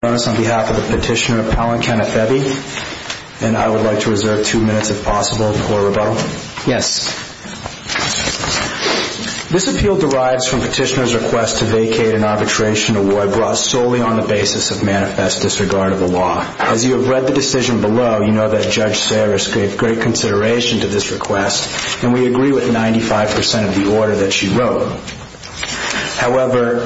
This appeal derives from Petitioner's request to vacate an arbitration award brought solely on the basis of manifest disregard of the law. As you have read the decision below, you know that Judge Sarris gave great consideration to this request, and we agree with 95% of the order that she wrote. However,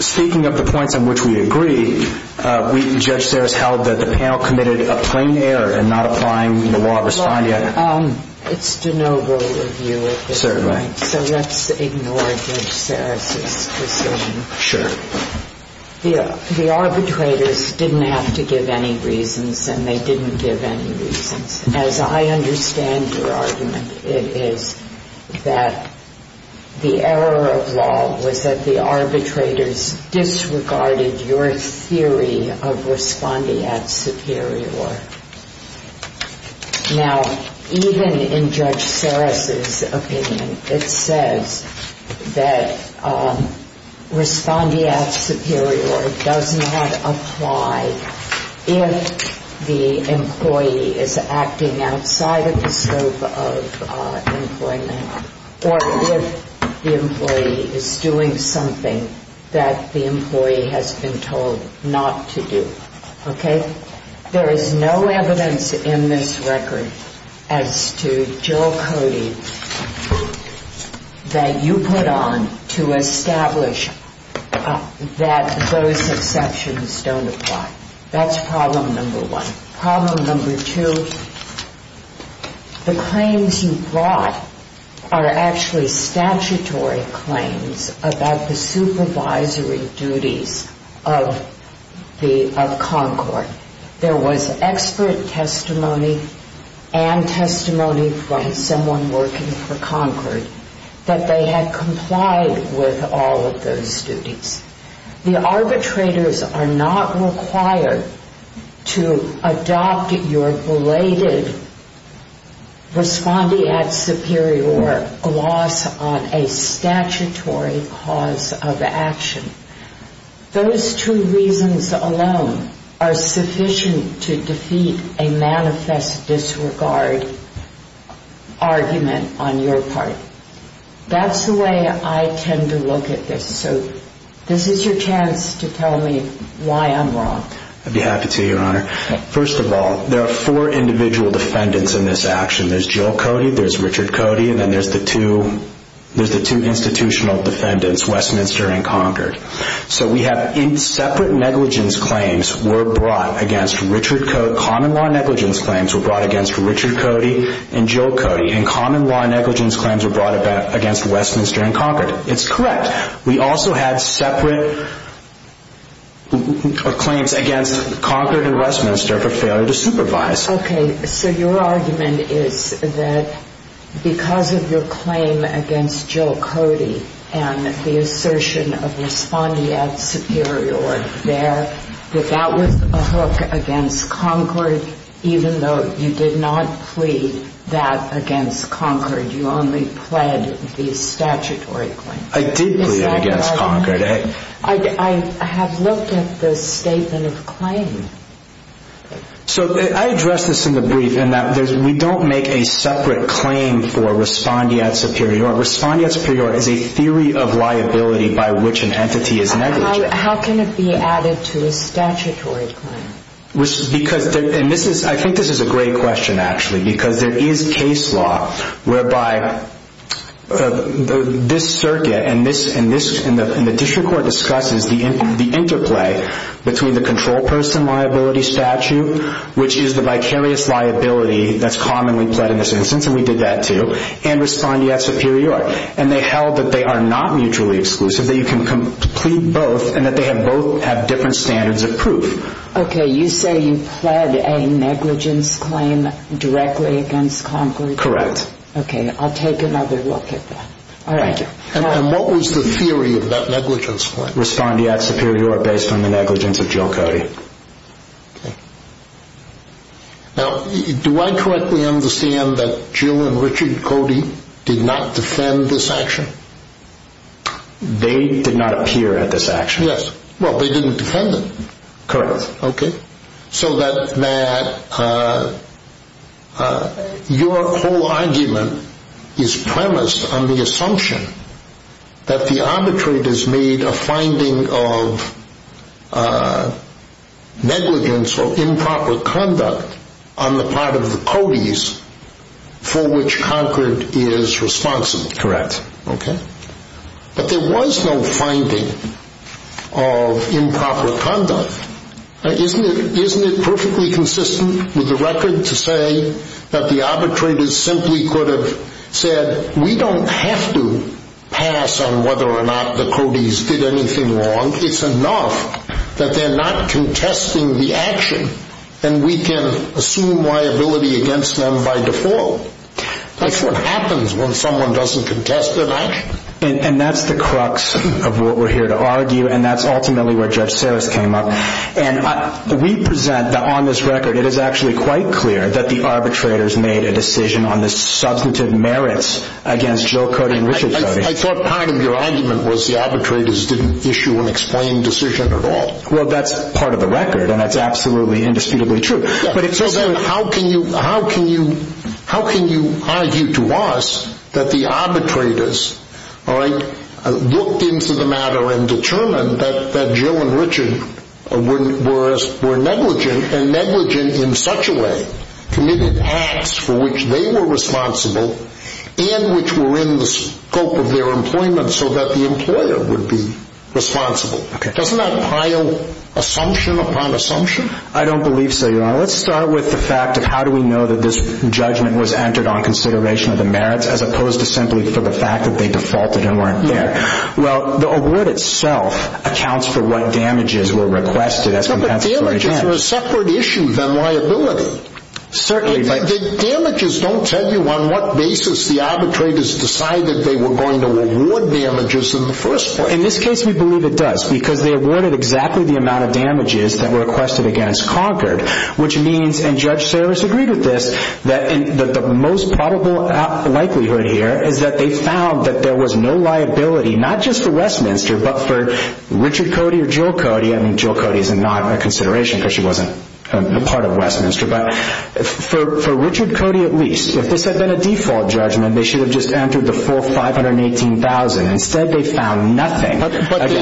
speaking of the points on which we agree, I would like that the panel committed a plain error in not applying the law of respondeat. It's de novo review, so let's ignore Judge Sarris' decision. Sure. The arbitrators didn't have to give any reasons, and they didn't give any reasons. As I understand your argument, it is that the error of law was that the arbitrators disregarded your theory of the law. Now, even in Judge Sarris' opinion, it says that respondeat superior does not apply if the employee is acting outside of the scope of employment, or if the employee is doing something that the employee has been told not to do. There is no evidence in this record as to Jill Cody that you put on to establish that those exceptions don't apply. That's problem number one. Problem number two, the claims you brought are actually statutory claims about the supervisory duties of Concord. There was expert testimony and testimony from someone working for Concord that they had complied with all of those duties. The arbitrators are not required to adopt your belated respondeat superior gloss on a statutory cause of action. Those two reasons alone are sufficient to defeat a manifest disregard argument on your part. That's the way I tend to look at this, so this is your chance to tell me why I'm wrong. I'd be happy to, Your Honor. First of all, there are four individual defendants in this action. There's Jill Cody, there's Richard Cody, and then there's the two institutional defendants, Westminster and Concord. So we have separate negligence claims were brought against Richard Cody. Common law negligence claims were brought against Richard Cody and Jill Cody, and common law negligence claims were brought against Westminster and Concord. It's correct. We also had separate claims against Concord and Westminster for failure to supervise. Okay, so your argument is that because of your claim against Jill Cody and the assertion of respondeat superior there, that that was a hook against Concord, even though you did not plead that against Concord, you only pled the statutory claim. I did plead against Concord. I have looked at the statement of claim. So I addressed this in the brief in that we don't make a separate claim for respondeat superior. Respondeat superior is a theory of liability by which an entity is negligent. How can it be added to a statutory claim? I think this is a great question, actually, because there is case law whereby this circuit and the district court discusses the interplay between the control person liability statute, which is the vicarious liability that's commonly pled in this instance, and we did that too, and respondeat superior. And they held that they are not mutually exclusive, that you can plead both, and that they both have different standards of proof. Okay, you say you pled a negligence claim directly against Concord? Correct. Okay, I'll take another look at that. All right. And what was the theory of that negligence claim? Respondeat superior based on the negligence of Jill Cody. Okay. Now, do I correctly understand that Jill and Richard Cody did not defend this action? They did not appear at this action. Yes. Well, they didn't defend it. Correct. Okay, so that your whole argument is premised on the assumption that the arbitrate has made a finding of negligence or improper conduct on the part of the Codys for which Concord is responsible. Correct. Okay. But there was no finding of improper conduct. Isn't it perfectly consistent with the record to say that the arbitrators simply could have said, we don't have to pass on whether or not the Codys did anything wrong? It's enough that they're not contesting the action, and we can assume liability against them by default. That's what happens when someone doesn't contest their action. And that's the crux of what we're here to argue, and that's ultimately where Judge Sarris came up. And we present that on this record, it is actually quite clear that the arbitrators made a decision on the substantive merits against Jill Cody and Richard Cody. I thought part of your argument was the arbitrators didn't issue an explained decision at all. Well, that's part of the record, and that's absolutely indisputably true. How can you argue to us that the arbitrators looked into the matter and determined that Jill and Richard were negligent, and negligent in such a way committed acts for which they were responsible and which were in the scope of their employment so that the employer would be responsible? Okay. Doesn't that pile assumption upon assumption? I don't believe so, Your Honor. Let's start with the fact of how do we know that this judgment was entered on consideration of the merits, as opposed to simply for the fact that they defaulted and weren't there. Well, the award itself accounts for what damages were requested as compensatory damage. No, but damages are a separate issue than liability. Certainly. The damages don't tell you on what basis the arbitrators decided they were going to award damages in the first place. In this case, we believe it does because they awarded exactly the amount of damages that were requested against Concord, which means, and Judge Sarris agreed with this, that the most probable likelihood here is that they found that there was no liability, not just for Westminster, but for Richard Cody or Jill Cody. I mean, Jill Cody is not on consideration because she wasn't a part of Westminster. But for Richard Cody at least, if this had been a default judgment, they should have just entered the full 518,000. Instead, they found nothing. But they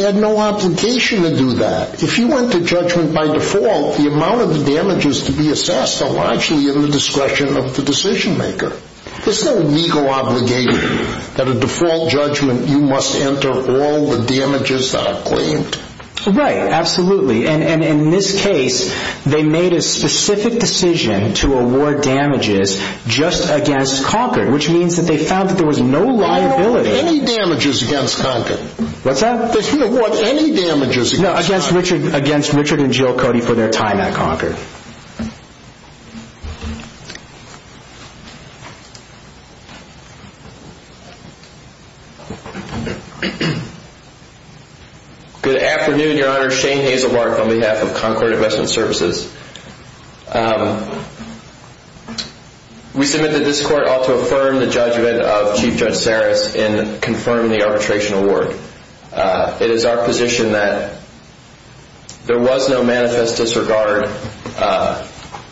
had no obligation to do that. If you went to judgment by default, the amount of the damages to be assessed are largely in the discretion of the decision maker. There's no legal obligation that a default judgment you must enter all the damages that are claimed. Right, absolutely. And in this case, they made a specific decision to award damages just against Concord, which means that they found that there was no liability. They didn't award any damages against Concord. What's that? They didn't award any damages against Concord. No, against Richard and Jill Cody for their time at Concord. Good afternoon, Your Honor. Shane Hazelbark on behalf of Concord Investment Services. We submit that this court ought to affirm the judgment of Chief Judge Saris in confirming the arbitration award. It is our position that there was no manifest disregard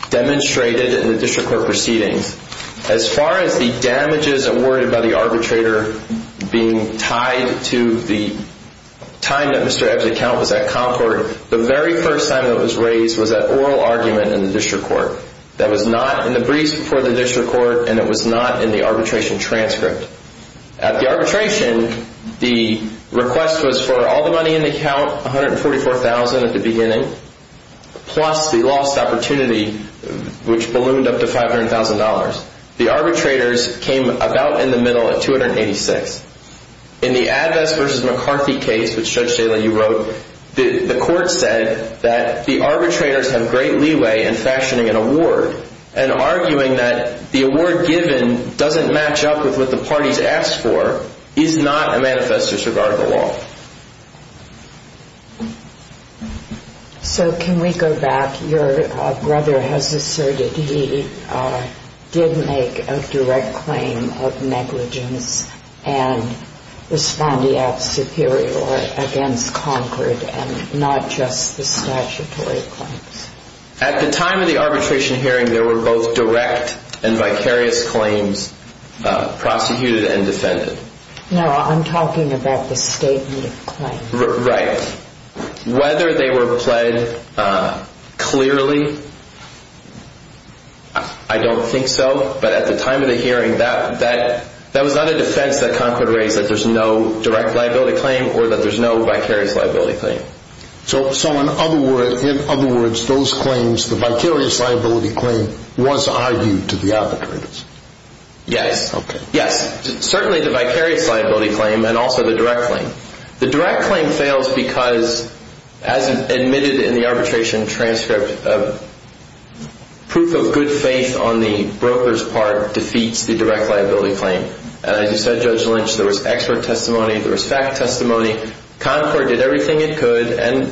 demonstrated in the district court proceedings. As far as the damages awarded by the arbitrator being tied to the time that Mr. Ebb's account was at Concord, the very first time it was raised was at oral argument in the district court. That was not in the briefs before the district court, and it was not in the arbitration transcript. At the arbitration, the request was for all the money in the account, $144,000 at the beginning, plus the lost opportunity, which ballooned up to $500,000. The arbitrators came about in the middle at $286,000. In the Advest v. McCarthy case, which Judge Stalin, you wrote, the court said that the arbitrators have great leeway in fashioning an award and arguing that the award given doesn't match up with what the parties asked for is not a manifest disregard of the law. So can we go back? Your brother has asserted he did make a direct claim of negligence and was found to have superior against Concord and not just the statutory claims. At the time of the arbitration hearing, there were both direct and vicarious claims prosecuted and defended. No, I'm talking about the statement of claims. Right. Whether they were pled clearly, I don't think so. But at the time of the hearing, that was not a defense that Concord raised, that there's no direct liability claim or that there's no vicarious liability claim. So in other words, those claims, the vicarious liability claim, was argued to the arbitrators? Yes. Yes. Certainly the vicarious liability claim and also the direct claim. The direct claim fails because, as admitted in the arbitration transcript, proof of good faith on the broker's part defeats the direct liability claim. And as you said, Judge Lynch, there was expert testimony, there was fact testimony. Concord did everything it could and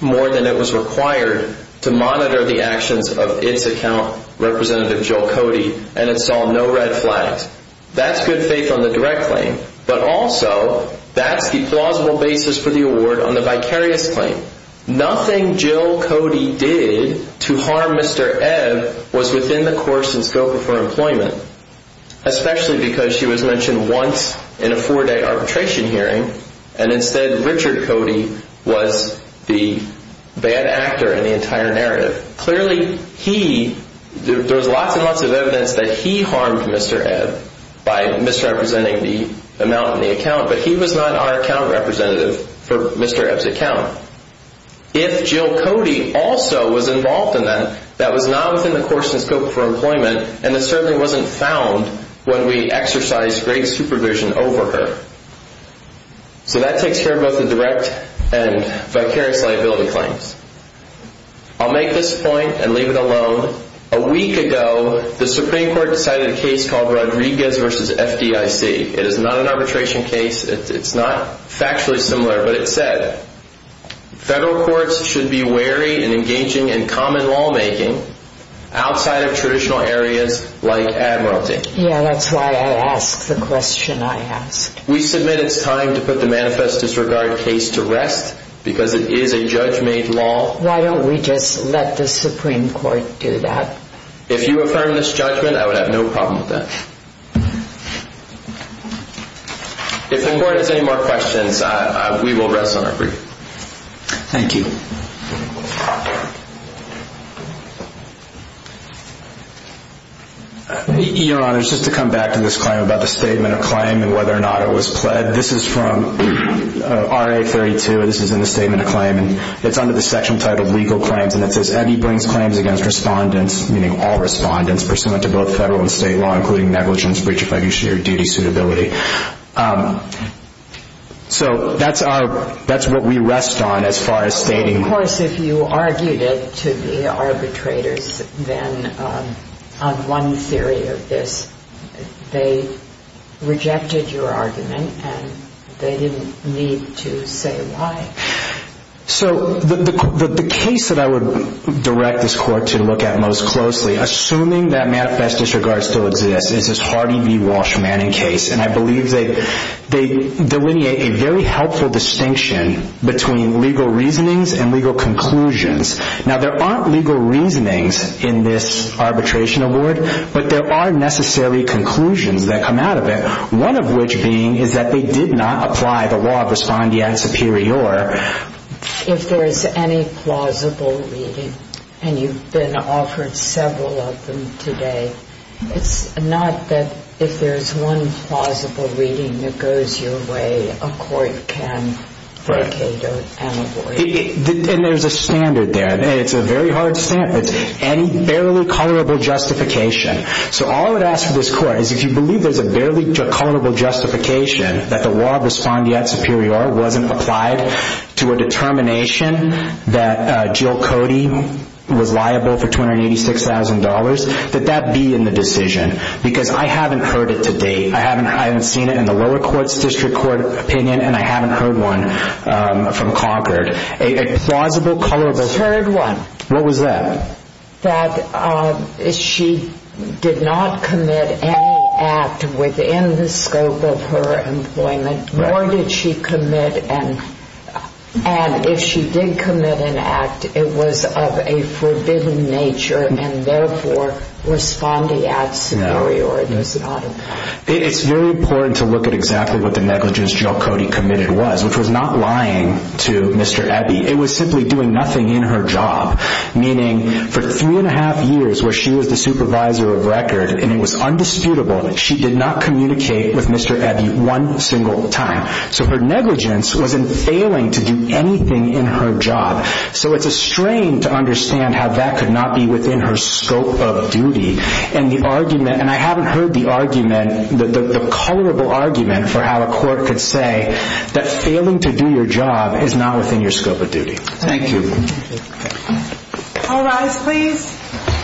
more than it was required to monitor the actions of its account representative, Joe Cody, and it saw no red flags. That's good faith on the direct claim, but also that's the plausible basis for the award on the vicarious claim. Nothing Jill Cody did to harm Mr. Ed was within the course and scope of her employment, especially because she was mentioned once in a four day arbitration hearing. And instead, Richard Cody was the bad actor in the entire narrative. Clearly, he there was lots and lots of evidence that he harmed Mr. Ed by misrepresenting the amount in the account, but he was not our account representative for Mr. Ed's account. If Jill Cody also was involved in that, that was not within the course and scope for employment. And it certainly wasn't found when we exercise great supervision over her. So that takes care of both the direct and vicarious liability claims. I'll make this point and leave it alone. A week ago, the Supreme Court decided a case called Rodriguez versus FDIC. It is not an arbitration case. It's not factually similar, but it said federal courts should be wary and engaging in common lawmaking outside of traditional areas like admiralty. Yeah, that's why I asked the question I asked. We submit it's time to put the manifest disregard case to rest because it is a judge made law. Why don't we just let the Supreme Court do that? If you affirm this judgment, I would have no problem with that. If the court has any more questions, we will rest on our feet. Thank you. Your Honor, just to come back to this claim about the statement of claim and whether or not it was pled, this is from R.A. 32. This is in the statement of claim, and it's under the section titled legal claims. And it says Eddie brings claims against respondents, meaning all respondents, pursuant to both federal and state law, including negligence, breach of fiduciary duty, suitability. So that's what we rest on as far as stating. Of course, if you argued it to the arbitrators, then on one theory of this, they rejected your argument, and they didn't need to say why. So the case that I would direct this court to look at most closely, assuming that manifest disregard still exists, is this Hardy v. Walsh Manning case. And I believe they delineate a very helpful distinction between legal reasonings and legal conclusions. Now, there aren't legal reasonings in this arbitration award, but there are necessary conclusions that come out of it, one of which being is that they did not apply the law of respondeat superior. If there is any plausible reading, and you've been offered several of them today, it's not that if there's one plausible reading that goes your way, a court can vacate or avoid it. And there's a standard there. It's a very hard standard. It's any barely culpable justification. So all I would ask of this court is if you believe there's a barely culpable justification that the law of respondeat superior wasn't applied to a determination that Jill Cody was liable for $286,000, that that be in the decision. Because I haven't heard it to date. I haven't seen it in the lower court's district court opinion, and I haven't heard one from Concord. Third one. What was that? That she did not commit any act within the scope of her employment, nor did she commit and if she did commit an act, it was of a forbidden nature and therefore respondeat superior. It's very important to look at exactly what the negligence Jill Cody committed was, which was not lying to Mr. Ebby. It was simply doing nothing in her job, meaning for three and a half years where she was the supervisor of record and it was undisputable that she did not communicate with Mr. Ebby one single time. So her negligence was in failing to do anything in her job. So it's a strain to understand how that could not be within her scope of duty. And the argument, and I haven't heard the argument, the colorable argument for how a court could say that failing to do your job is not within your scope of duty. Thank you. All rise please.